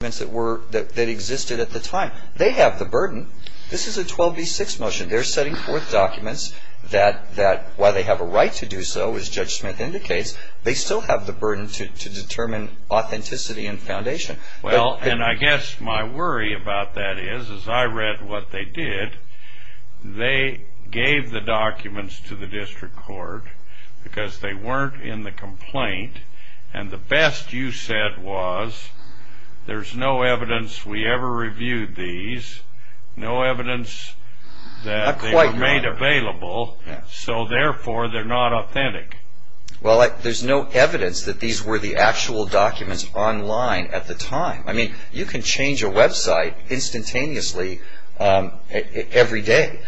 that existed at the time. They have the burden, this is a 12b6 motion, they're setting forth documents that while they have a right to do so, as Judge Smith indicates, they still have the burden to determine authenticity and foundation. Well, and I guess my worry about that is, as I read what they did, they gave the documents to the district court because they weren't in the complaint and the best you said was there's no evidence we ever reviewed these, no evidence that they were made available, so therefore they're not authentic. Well there's no evidence that these were the actual documents online at the time. I mean, you can change a website instantaneously every day.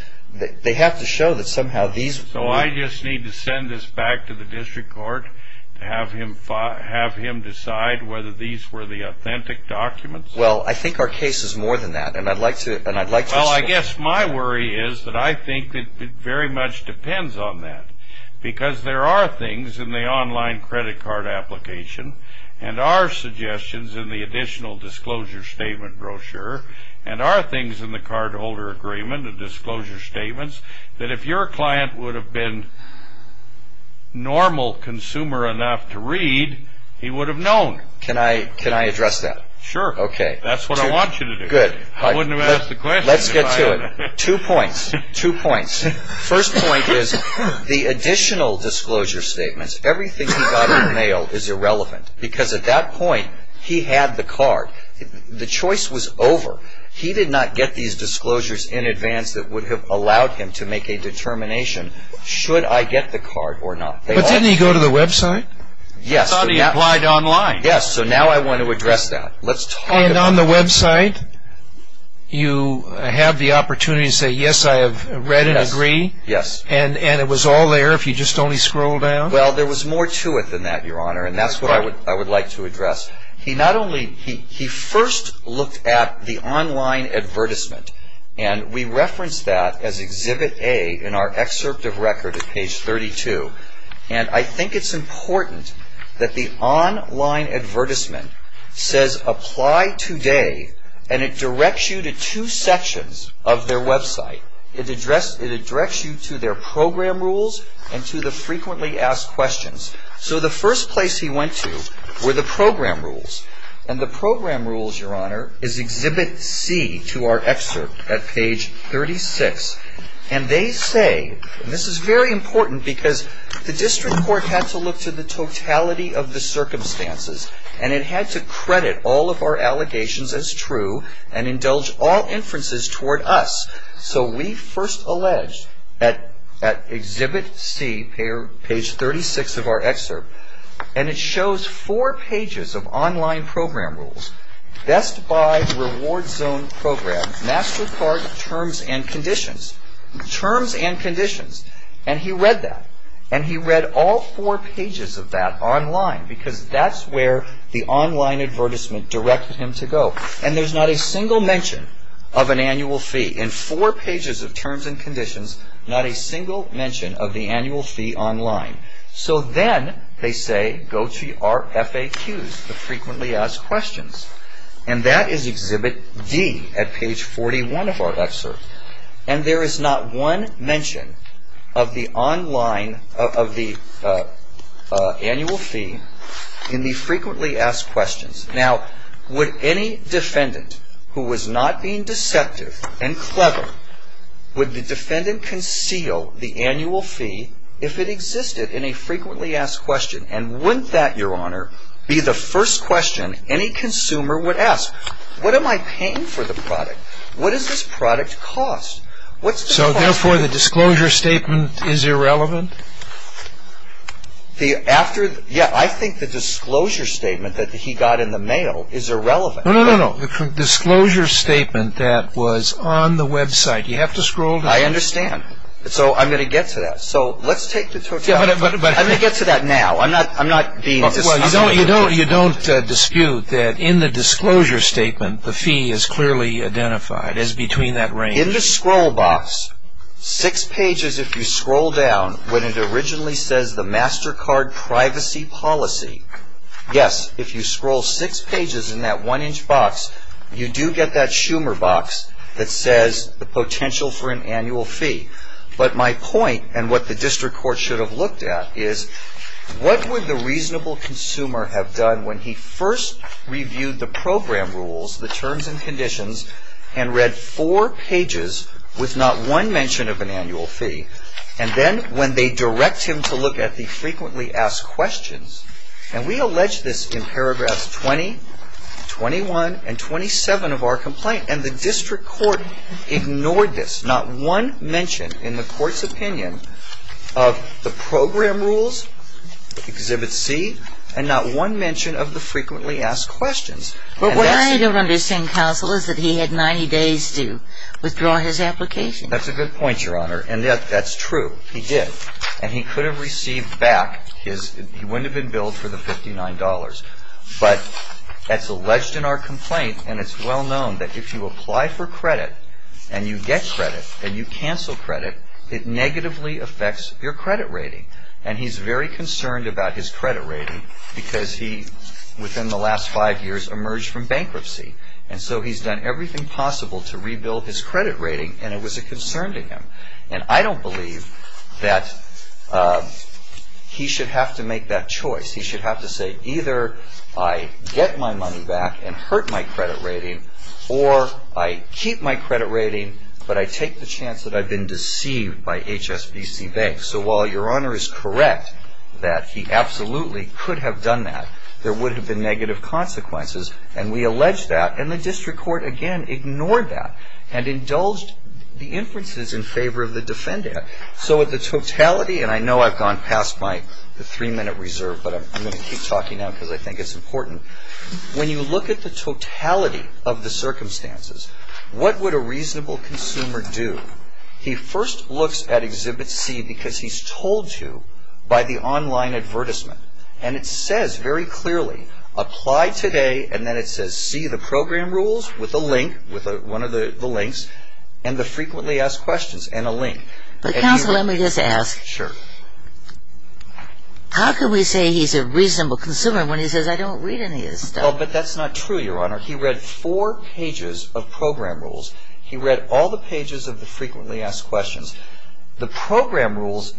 They have to show that somehow these... So I just need to send this back to the district court to have him decide whether these were the authentic documents. Well I think our case is more than that and I'd like to... Well I guess my worry is that I think it very much depends on that because there are things in the online credit card application and are suggestions in the additional disclosure statement brochure and are things in the cardholder agreement and disclosure statements that if your client would have been normal consumer enough to read, he would have known. Can I address that? Sure. That's what I want you to do. Good. Let's get to it. Two points, two points. First point is the additional disclosure statements, everything he got in the mail is irrelevant because at that point he had the card. The choice was over. He did not get these disclosures in advance that would have allowed him to make a determination, should I get the card or not. But didn't he go to the website? Yes. He applied online. Yes. So now I want to address that. Let's talk about that. And on the website you have the opportunity to say yes I have read and agree and it was all there if you just only scroll down? Well there was more to it than that your honor and that's what I would like to address. He not only, he first looked at the online advertisement and we referenced that as exhibit A in our excerpt. It's important that the online advertisement says apply today and it directs you to two sections of their website. It directs you to their program rules and to the frequently asked questions. So the first place he went to were the program rules and the program rules your honor is exhibit C to our excerpt at page 36 and they say, and this is very important, he looked to the totality of the circumstances and it had to credit all of our allegations as true and indulge all inferences toward us. So we first alleged at exhibit C page 36 of our excerpt and it shows four pages of online program rules. Best Buy, Reward Zone Program, MasterCard, Terms and Conditions. Terms and Conditions. And he read that. And he read all four pages of that online because that's where the online advertisement directed him to go. And there's not a single mention of an annual fee. In four pages of Terms and Conditions, not a single mention of the annual fee online. So then they say go to our FAQs, the Frequently Asked Questions. And that is exhibit D at page 41 of our excerpt. And there is not one mention of the online, of the annual fee in the Frequently Asked Questions. Now would any defendant who was not being deceptive and clever, would the defendant conceal the annual fee if it existed in a Frequently Asked Question? And wouldn't that your honor be the first question any consumer would ask? What am I paying for the product? What does this product cost? What's the cost? So therefore the disclosure statement is irrelevant? The after, yeah, I think the disclosure statement that he got in the mail is irrelevant. No, no, no, no. The disclosure statement that was on the website. You have to scroll down. I understand. So I'm going to get to that. So let's take the totality. I'm going to get to that now. I'm not, I'm not being. Well, you don't, you don't, you don't dispute that in the disclosure statement the fee is clearly identified as between that range. In the scroll box, six pages if you scroll down, when it originally says the MasterCard Privacy Policy, yes, if you scroll six pages in that one-inch box, you do get that Schumer box that says the potential for an annual fee. But my point, and what the district court should have looked at, is what would the reasonable consumer have done when he first reviewed the program rules, the terms and conditions, and read four pages with not one mention of an annual fee? And then when they direct him to look at the frequently asked questions, and we allege this in paragraphs 20, 21, and 27 of our complaint, and the district court ignored this, not one mention in the court's opinion of the program rules, Exhibit C, and not one mention of the frequently asked questions. But what I don't understand, counsel, is that he had 90 days to withdraw his application. That's a good point, Your Honor, and that's true. He did. And he could have received back his, he wouldn't have been billed for the $59. But that's alleged in our complaint, and it's well known that if you apply for credit, and you get credit, and you cancel credit, it negatively affects your credit rating. And he's very concerned about his credit rating, because he, within the last five years, emerged from bankruptcy. And so he's done everything possible to rebuild his credit rating, and it was a concern to him. And I don't believe that he should have to make that choice. He should have to say, either I get my money back and hurt my credit rating, or I keep my credit rating, but I take the chance that I've been deceived by HSBC Bank. So while Your Honor is correct that he absolutely could have done that, there would have been negative consequences, and we allege that. And the district court, again, ignored that and indulged the inferences in favor of the defendant. So at the totality, and I know I've gone past my three-minute reserve, but I'm going to keep talking now because I think it's important. When you look at the totality of the circumstances, what would a reasonable consumer do? He first looks at Exhibit C because he's told to by the online advertisement. And it says very clearly, apply today, and then it says, see the program rules with a link, with one of the links, and the frequently asked questions and a link. But counsel, let me just ask, how can we say he's a reasonable consumer when he says, I don't read any of this stuff? Well, but that's not true, Your Honor. He read four pages of program rules. He read all the pages of the frequently asked questions. The program rules,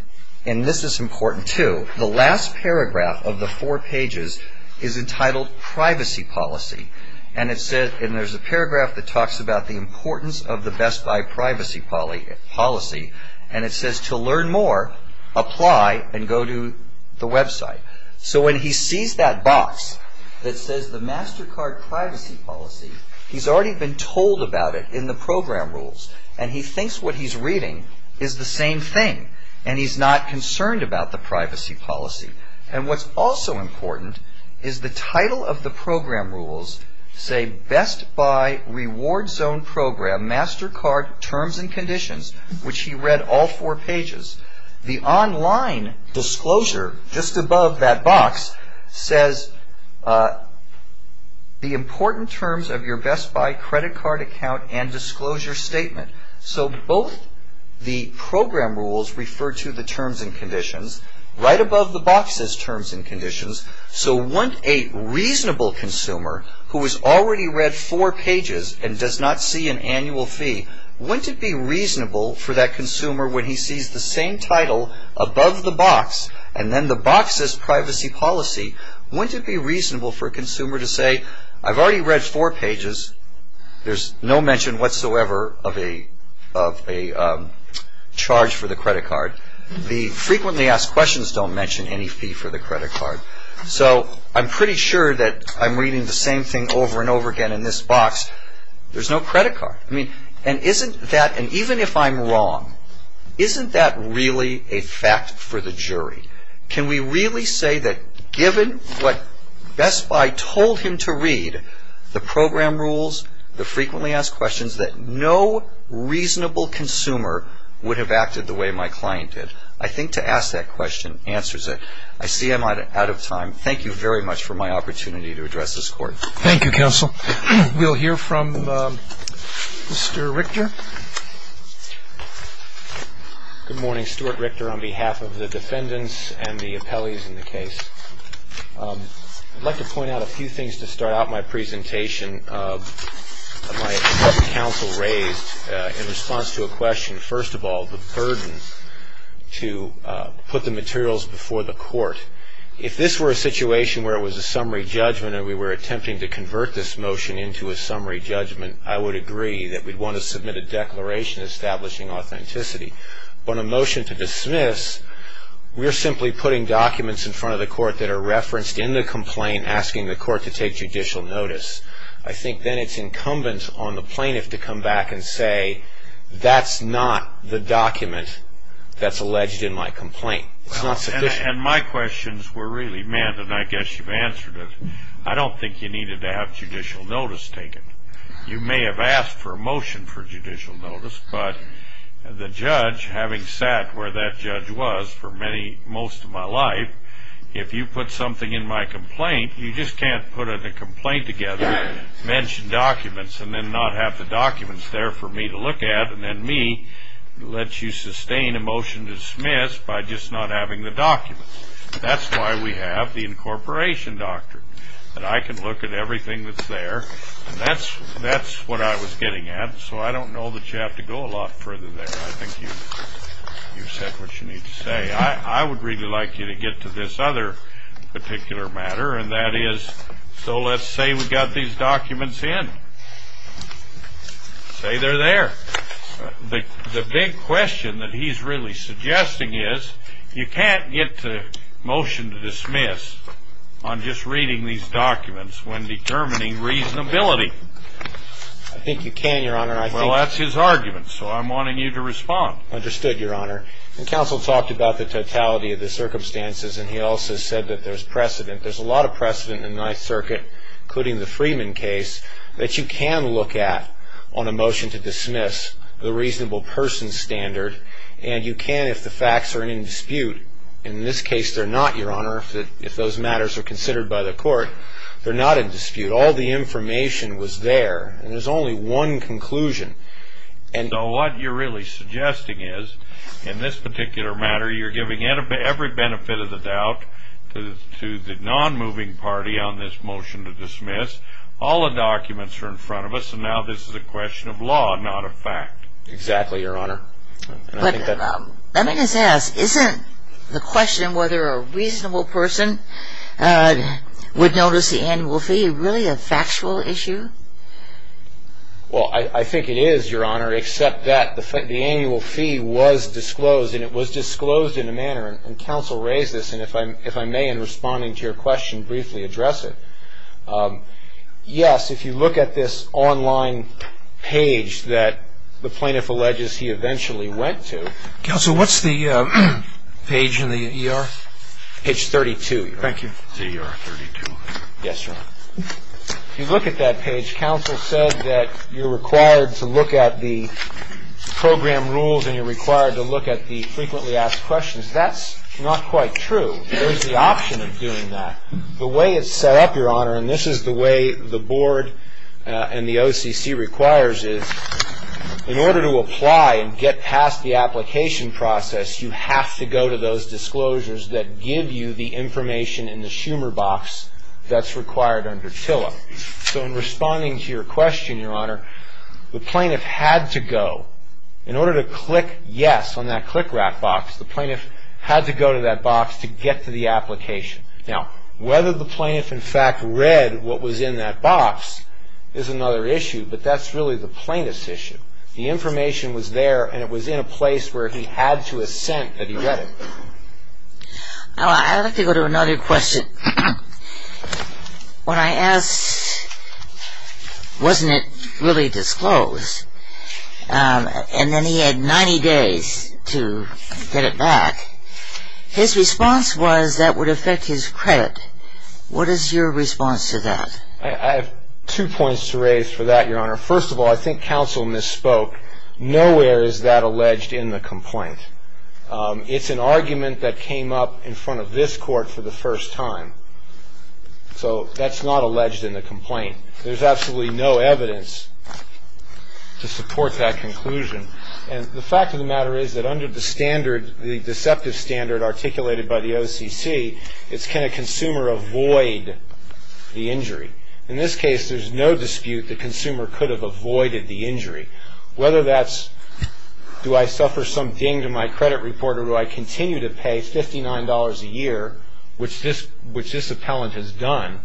and this is important too, the last paragraph of the four pages is entitled Privacy Policy, and it says, and there's a paragraph that talks about the importance of the Best Buy Privacy Policy, and it says to learn more, apply and go to the website. So when he sees that box that says the MasterCard Privacy Policy, he's already been told about it in the program rules, and he thinks what he's reading is the same thing, and he's not concerned about the Privacy Policy. And what's also important is the title of the program rules say Best Buy Reward Zone Program MasterCard Terms and Conditions, which he read all four pages. The online disclosure just above that box says, the important terms of your Best Buy Credit Card Account and Disclosure Statement. So both the program rules refer to the terms and conditions. Right above the box says Terms and Conditions. So when a reasonable consumer who has already read four pages and does not see an annual fee, wouldn't it be reasonable for that consumer when he sees the same title above the box, and then the box says Privacy Policy, wouldn't it be reasonable for a consumer to say, I've already read four pages, there's no mention whatsoever of a charge for the credit card. The frequently asked questions don't mention any fee for the credit card. So I'm pretty sure that I'm reading the same thing over and over again in this box. There's no credit card. And isn't that, and even if I'm wrong, isn't that really a fact for the jury? Can we really say that given what Best Buy told him to read, the program rules, the frequently asked questions, that no reasonable consumer would have acted the way my client did? I think to ask that question answers it. I see I'm out of time. Thank you very much for my opportunity to address this Court. Thank you, Counsel. We'll hear from Mr. Richter. Good morning. Stuart Richter on behalf of the defendants and the appellees in the case. I'd like to point out a few things to start out my presentation of my counsel raised in response to a question. First of all, the burden to put the materials before the Court. If this were a situation where it was a summary judgment and we were attempting to convert this motion into a summary judgment, I would agree that we'd want to submit a declaration establishing authenticity. On a motion to dismiss, we're simply putting documents in front of the Court that are referenced in the complaint asking the Court to take judicial notice. I think then it's incumbent on the plaintiff to come back and say, that's not the document that's alleged in my complaint. It's not sufficient. And my questions were really meant, and I guess you've answered it, I don't think you needed to have judicial notice taken. You may have asked for a motion for judicial notice, but the judge, having sat where that judge was for most of my life, if you put something in my complaint, you just can't put a complaint together, mention documents, and then not have the documents there for me to look at, and then me let you sustain a motion to dismiss by just not having the documents. That's why we have the incorporation doctrine. I can look at everything that's there, and that's what I was getting at, so I don't know that you have to go a lot further there. I think you've said what you need to say. I would really like you to get to this other particular matter, and that is, so let's say we've got these documents in. Say they're there. The big question that he's really suggesting is you can't get the motion to dismiss on just reading these documents when determining reasonability. I think you can, Your Honor. Well, that's his argument, so I'm wanting you to respond. Understood, Your Honor. The counsel talked about the totality of the circumstances, and he also said that there's precedent. There's a lot of precedent in the Ninth Circuit, including the Freeman case, that you can look at on a motion to dismiss the reasonable person standard, and you can if the facts are in dispute. In this case, they're not, Your Honor, if those matters are considered by the court. They're not in dispute. All the information was there, and there's only one conclusion. So what you're really suggesting is, in this particular matter, you're giving every benefit of the doubt to the non-moving party on this motion to dismiss. All the documents are in front of us, and now this is a question of But let me just ask, isn't the question whether a reasonable person would notice the annual fee really a factual issue? Well, I think it is, Your Honor, except that the annual fee was disclosed, and it was disclosed in a manner, and counsel raised this, and if I may, in responding to your question, briefly address it. Yes, if you look at this online page that the plaintiff alleges he eventually went to. Counsel, what's the page in the ER? Page 32, Your Honor. Thank you. Yes, Your Honor. If you look at that page, counsel said that you're required to look at the program rules and you're required to look at the frequently asked questions. That's not quite true. There's the option of doing that. The way it's set up, Your Honor, and this is the way the board and the OCC requires is, in order to apply and get past the application process, you have to go to those disclosures that give you the information in the Schumer box that's required under TILA. So in responding to your question, Your Honor, the plaintiff had to go. In order to click yes on that click wrap box, the plaintiff had to go to that box to get to the application. Now, whether the plaintiff in fact read what was in that box is another issue, but that's really the plaintiff's issue. The information was there and it was in a place where he had to have sent that he read it. I'd like to go to another question. When I asked, wasn't it really disclosed? And then he had 90 days to get it back. His response was that would affect his credit. What is your response to that? I have two points to raise for that, Your Honor. First of all, I think counsel misspoke. Nowhere is that alleged in the complaint. It's an argument that came up in front of this court for the first time. So that's not alleged in the complaint. There's absolutely no evidence to support that conclusion. And the fact of the matter is that under the standard, the deceptive standard articulated by the OCC, it's can a consumer avoid the injury. In this case, there's no dispute the consumer could have avoided the injury. Whether that's do I suffer some ding to my credit report or do I continue to pay $59 a year, which this appellant has done,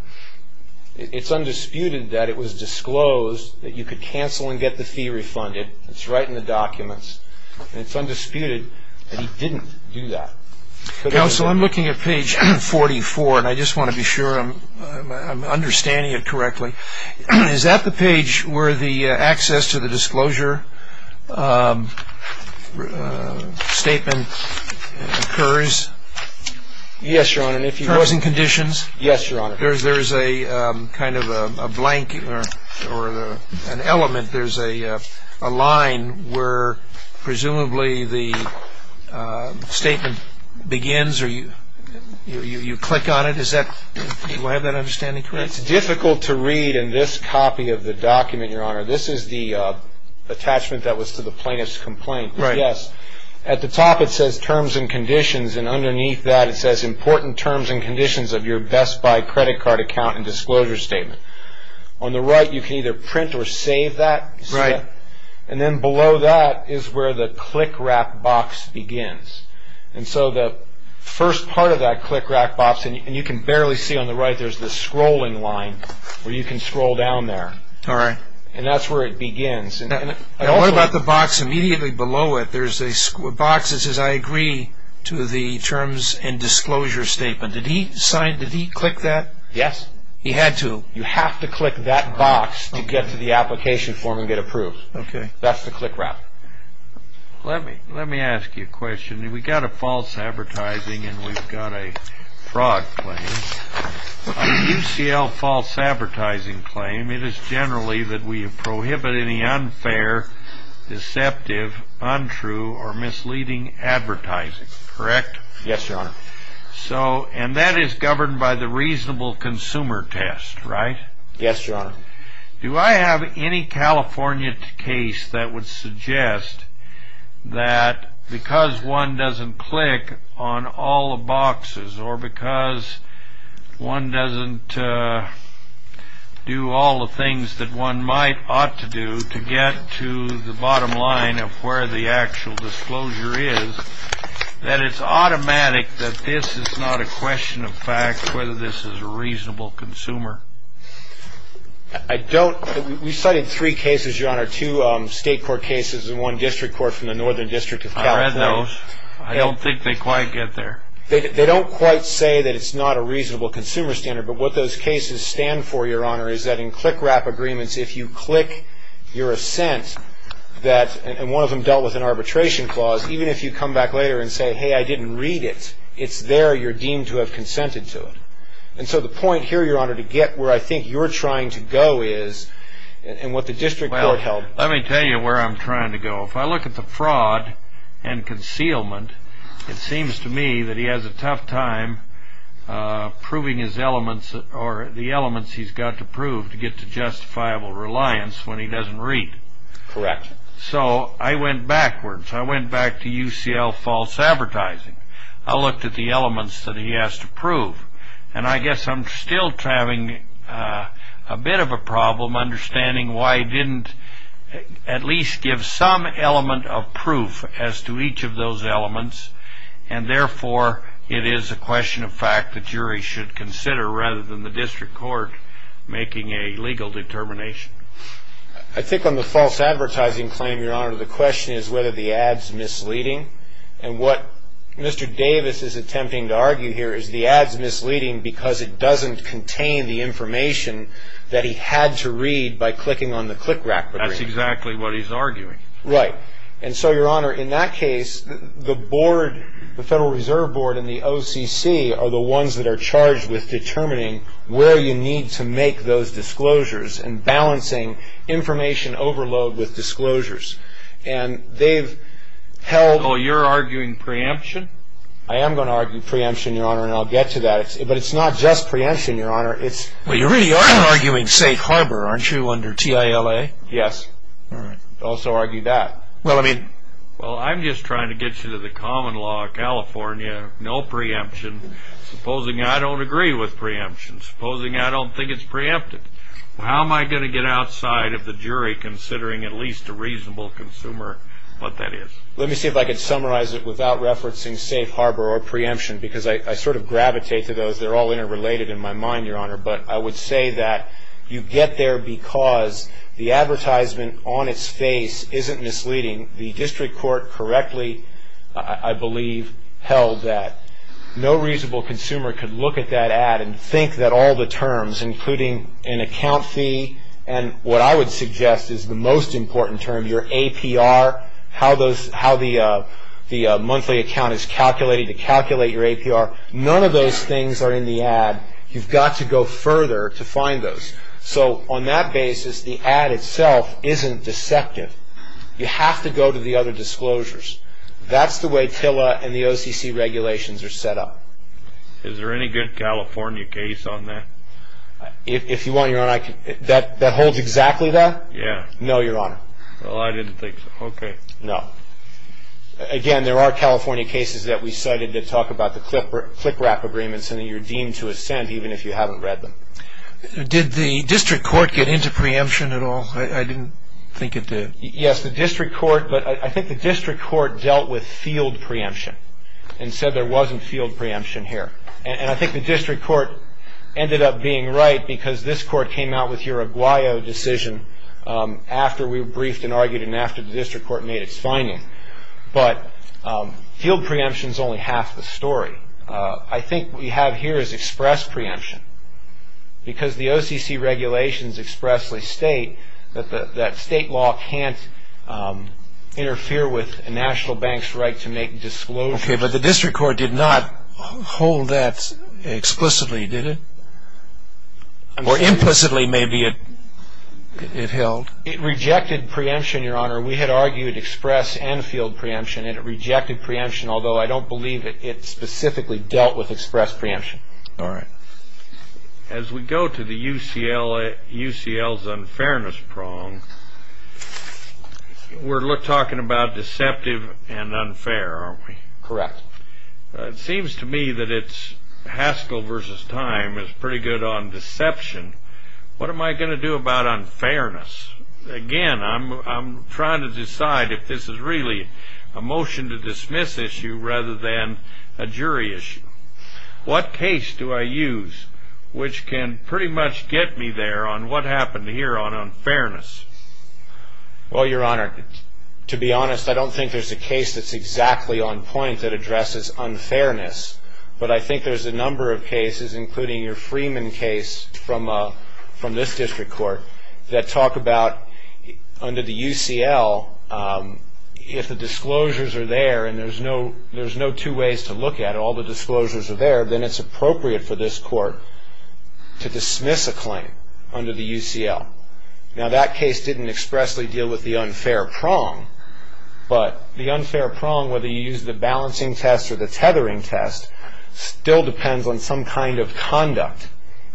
it's undisputed that it was disclosed that you could cancel and get the fee refunded. It's right in the documents and it's undisputed that he didn't do that. Counsel, I'm looking at page 44 and I just want to be sure I'm understanding it correctly. Is that the page where the access to the disclosure statement occurs? Yes, Your Honor. Terms and conditions? Yes, Your Honor. There's a kind of a blank or an element. There's a line where presumably the statement begins or you click on it. Do I have that understanding correctly? It's difficult to read in this copy of the document, Your Honor. This is the attachment that was to the plaintiff's complaint. Yes. At the top it says terms and conditions and underneath that it says important terms and conditions of your Best Buy credit card account and disclosure statement. On the right you can either print or save that. Right. Then below that is where the click wrap box begins. The first part of that click wrap box, and you can barely see on the right, there's this scrolling line where you can scroll down there. All right. That's where it begins. What about the box immediately below it? There's a box that says I agree to the terms and disclosure statement. Did he click that? Yes. He had to. You have to click that box to get to the application form and get approved. Okay. That's the click wrap. Let me ask you a question. We've got a false advertising and we've got a fraud claim. A UCL false advertising claim, it is generally that we prohibit any unfair, deceptive, untrue or misleading advertising. Correct? Yes, Your Honor. That is governed by the reasonable consumer test, right? Yes, Your Honor. Do I have any California case that would suggest that because one doesn't click on all the boxes or because one doesn't do all the things that one might ought to do to get to the bottom line of where the actual disclosure is, that it's automatic that this is not a question of fact, whether this is a reasonable consumer? I don't. We cited three cases, Your Honor, two state court cases and one district court from the Northern District of California. I read those. I don't think they quite get there. They don't quite say that it's not a reasonable consumer standard, but what those cases stand for, Your Honor, is that in click you're assent that, and one of them dealt with an arbitration clause, even if you come back later and say, hey, I didn't read it, it's there, you're deemed to have consented to it. And so the point here, Your Honor, to get where I think you're trying to go is, and what the district court held... Well, let me tell you where I'm trying to go. If I look at the fraud and concealment, it seems to me that he has a tough time proving his claim when he doesn't read. Correct. So I went backwards. I went back to UCL false advertising. I looked at the elements that he has to prove, and I guess I'm still having a bit of a problem understanding why he didn't at least give some element of proof as to each of those elements, and therefore it is a question of fact the jury should consider rather than the district court making a legal determination. I think on the false advertising claim, Your Honor, the question is whether the ad's misleading, and what Mr. Davis is attempting to argue here is the ad's misleading because it doesn't contain the information that he had to read by clicking on the click rack. That's exactly what he's arguing. Right. And so, Your Honor, in that case, the board, the Federal Reserve Board and the OCC are the ones that are charged with determining where you need to make those disclosures and balancing information overload with disclosures. And they've held... So you're arguing preemption? I am going to argue preemption, Your Honor, and I'll get to that. But it's not just preemption, Your Honor. Well, you really are arguing safe harbor, aren't you, under TILA? Yes. Also argue that. Well, I'm just trying to get you to the common law of California, no preemption. Supposing I don't agree with preemption. Supposing I don't think it's preempted. How am I going to get outside of the jury considering at least a reasonable consumer what that is? Let me see if I can summarize it without referencing safe harbor or preemption because I sort of gravitate to those. They're all interrelated in my mind, Your Honor. But I would say that you get there because the advertisement on its face isn't misleading. The district court correctly, I believe, held that. No reasonable consumer could look at that ad and think that all the terms, including an account fee and what I would suggest is the most important term, your APR, how the monthly account is calculated to calculate your APR, none of those things are in the ad. You've got to go further to find those. So on that basis, the ad itself isn't deceptive. You have to go to the other disclosures. That's the way TILA and the OCC regulations are set up. Is there any good California case on that? If you want, Your Honor, that holds exactly that? No, Your Honor. Well, I didn't think so. Okay. No. Again, there are California cases that we cited that talk about the CLCRAP agreements and you're deemed to have sent even if you haven't read them. Did the district court get into preemption at all? I didn't think it did. Yes, the district court, but I think the district court dealt with field preemption and said there wasn't field preemption here. And I think the district court ended up being right because this court came out with your Aguayo decision after we Field preemption is only half the story. I think what we have here is express preemption because the OCC regulations expressly state that state law can't interfere with a national bank's right to make disclosures. Okay, but the district court did not hold that explicitly, did it? Or implicitly maybe it held? It rejected preemption, Your Honor. We had argued express and field preemption and it rejected preemption, although I don't believe it specifically dealt with express preemption. All right. As we go to the UCL's unfairness prong, we're talking about deceptive and unfair, aren't we? Correct. It seems to me that it's Haskell versus Time is pretty good on deception. What am I going to do about unfairness? Again, I'm trying to decide if this is really a motion to dismiss issue rather than a jury issue. What case do I use which can pretty much get me there on what happened here on unfairness? Well, Your Honor, to be honest, I don't think there's a case that's exactly on point that addresses unfairness, but I think there's a number of cases, including your Freeman case from this district court, that talk about under the UCL, if the disclosures are there and there's no two ways to look at it, all the disclosures are there, then it's appropriate for this court to dismiss a claim under the UCL. Now, that case didn't expressly deal with the unfair prong, but the unfair prong, whether you use the balancing test or the tethering test, still depends on some kind of conduct,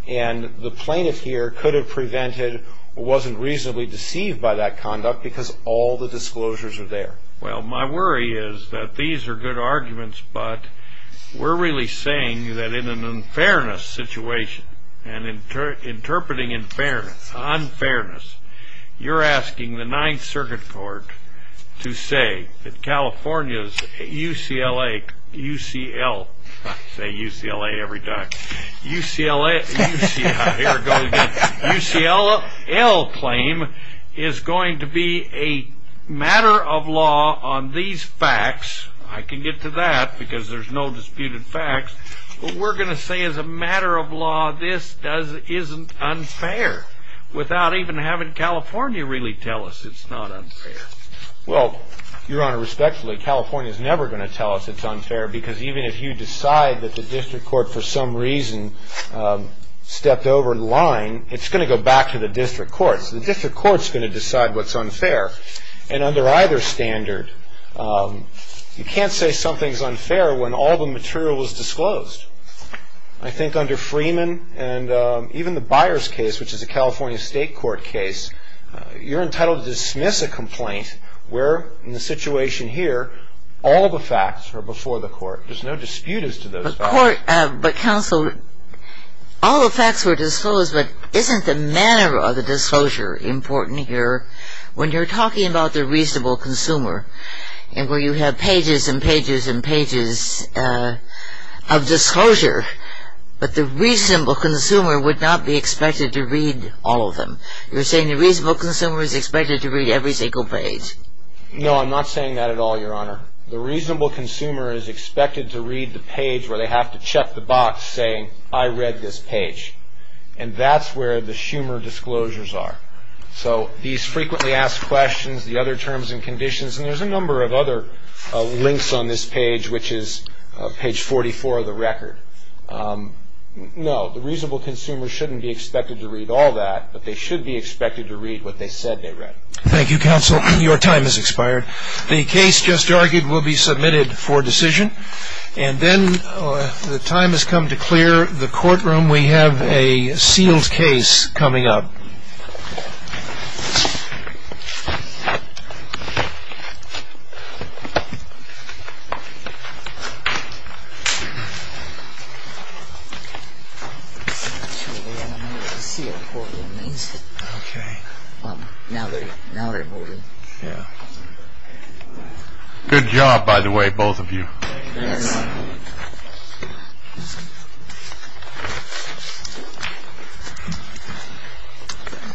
and the plaintiff here could have prevented or wasn't reasonably deceived by that conduct because all the disclosures are there. Well, my worry is that these are good arguments, but we're really saying that in an unfairness situation and interpreting unfairness, you're asking the Ninth Circuit Court to say that UCLA, UCL, I say UCLA every time, UCLA, UCLA, UCLA claim is going to be a matter of law on these facts, I can get to that because there's no disputed facts, but we're going to say as a matter of law, this isn't unfair, without even having California really tell us it's not unfair. Well, Your Honor, respectfully, California's never going to tell us it's unfair because even if you decide that the district court for some reason stepped over the line, it's going to go back to the district court, so the district court's going to decide what's unfair, and under either standard, you can't say something's unfair when all the material is disclosed. I think under Freeman and even the Byers case, which is a California state court case, you're entitled to dismiss a complaint where, in the situation here, all of the facts are before the court. There's no dispute as to those facts. But counsel, all the facts were disclosed, but isn't the manner of the disclosure important here? When you're talking about the reasonable consumer, and where you have pages and pages and pages of disclosure, but the reasonable consumer would not be expected to read all of them. You're saying the reasonable consumer is expected to read every single page. No, I'm not saying that at all, Your Honor. The reasonable consumer is expected to read the page where they have to check the box saying, I read this page. And that's where the Schumer disclosures are. So these frequently asked questions, the other terms and conditions, and there's a number of other links on this page, which is page 44 of the record. No, the reasonable consumer shouldn't be expected to read all that, but they should be expected to read what they said they read. Thank you, counsel. Your time has expired. The case just argued will be submitted for decision. And then the time has come to clear the courtroom. We have a sealed case coming up. Good job, by the way, both of you. Thank you.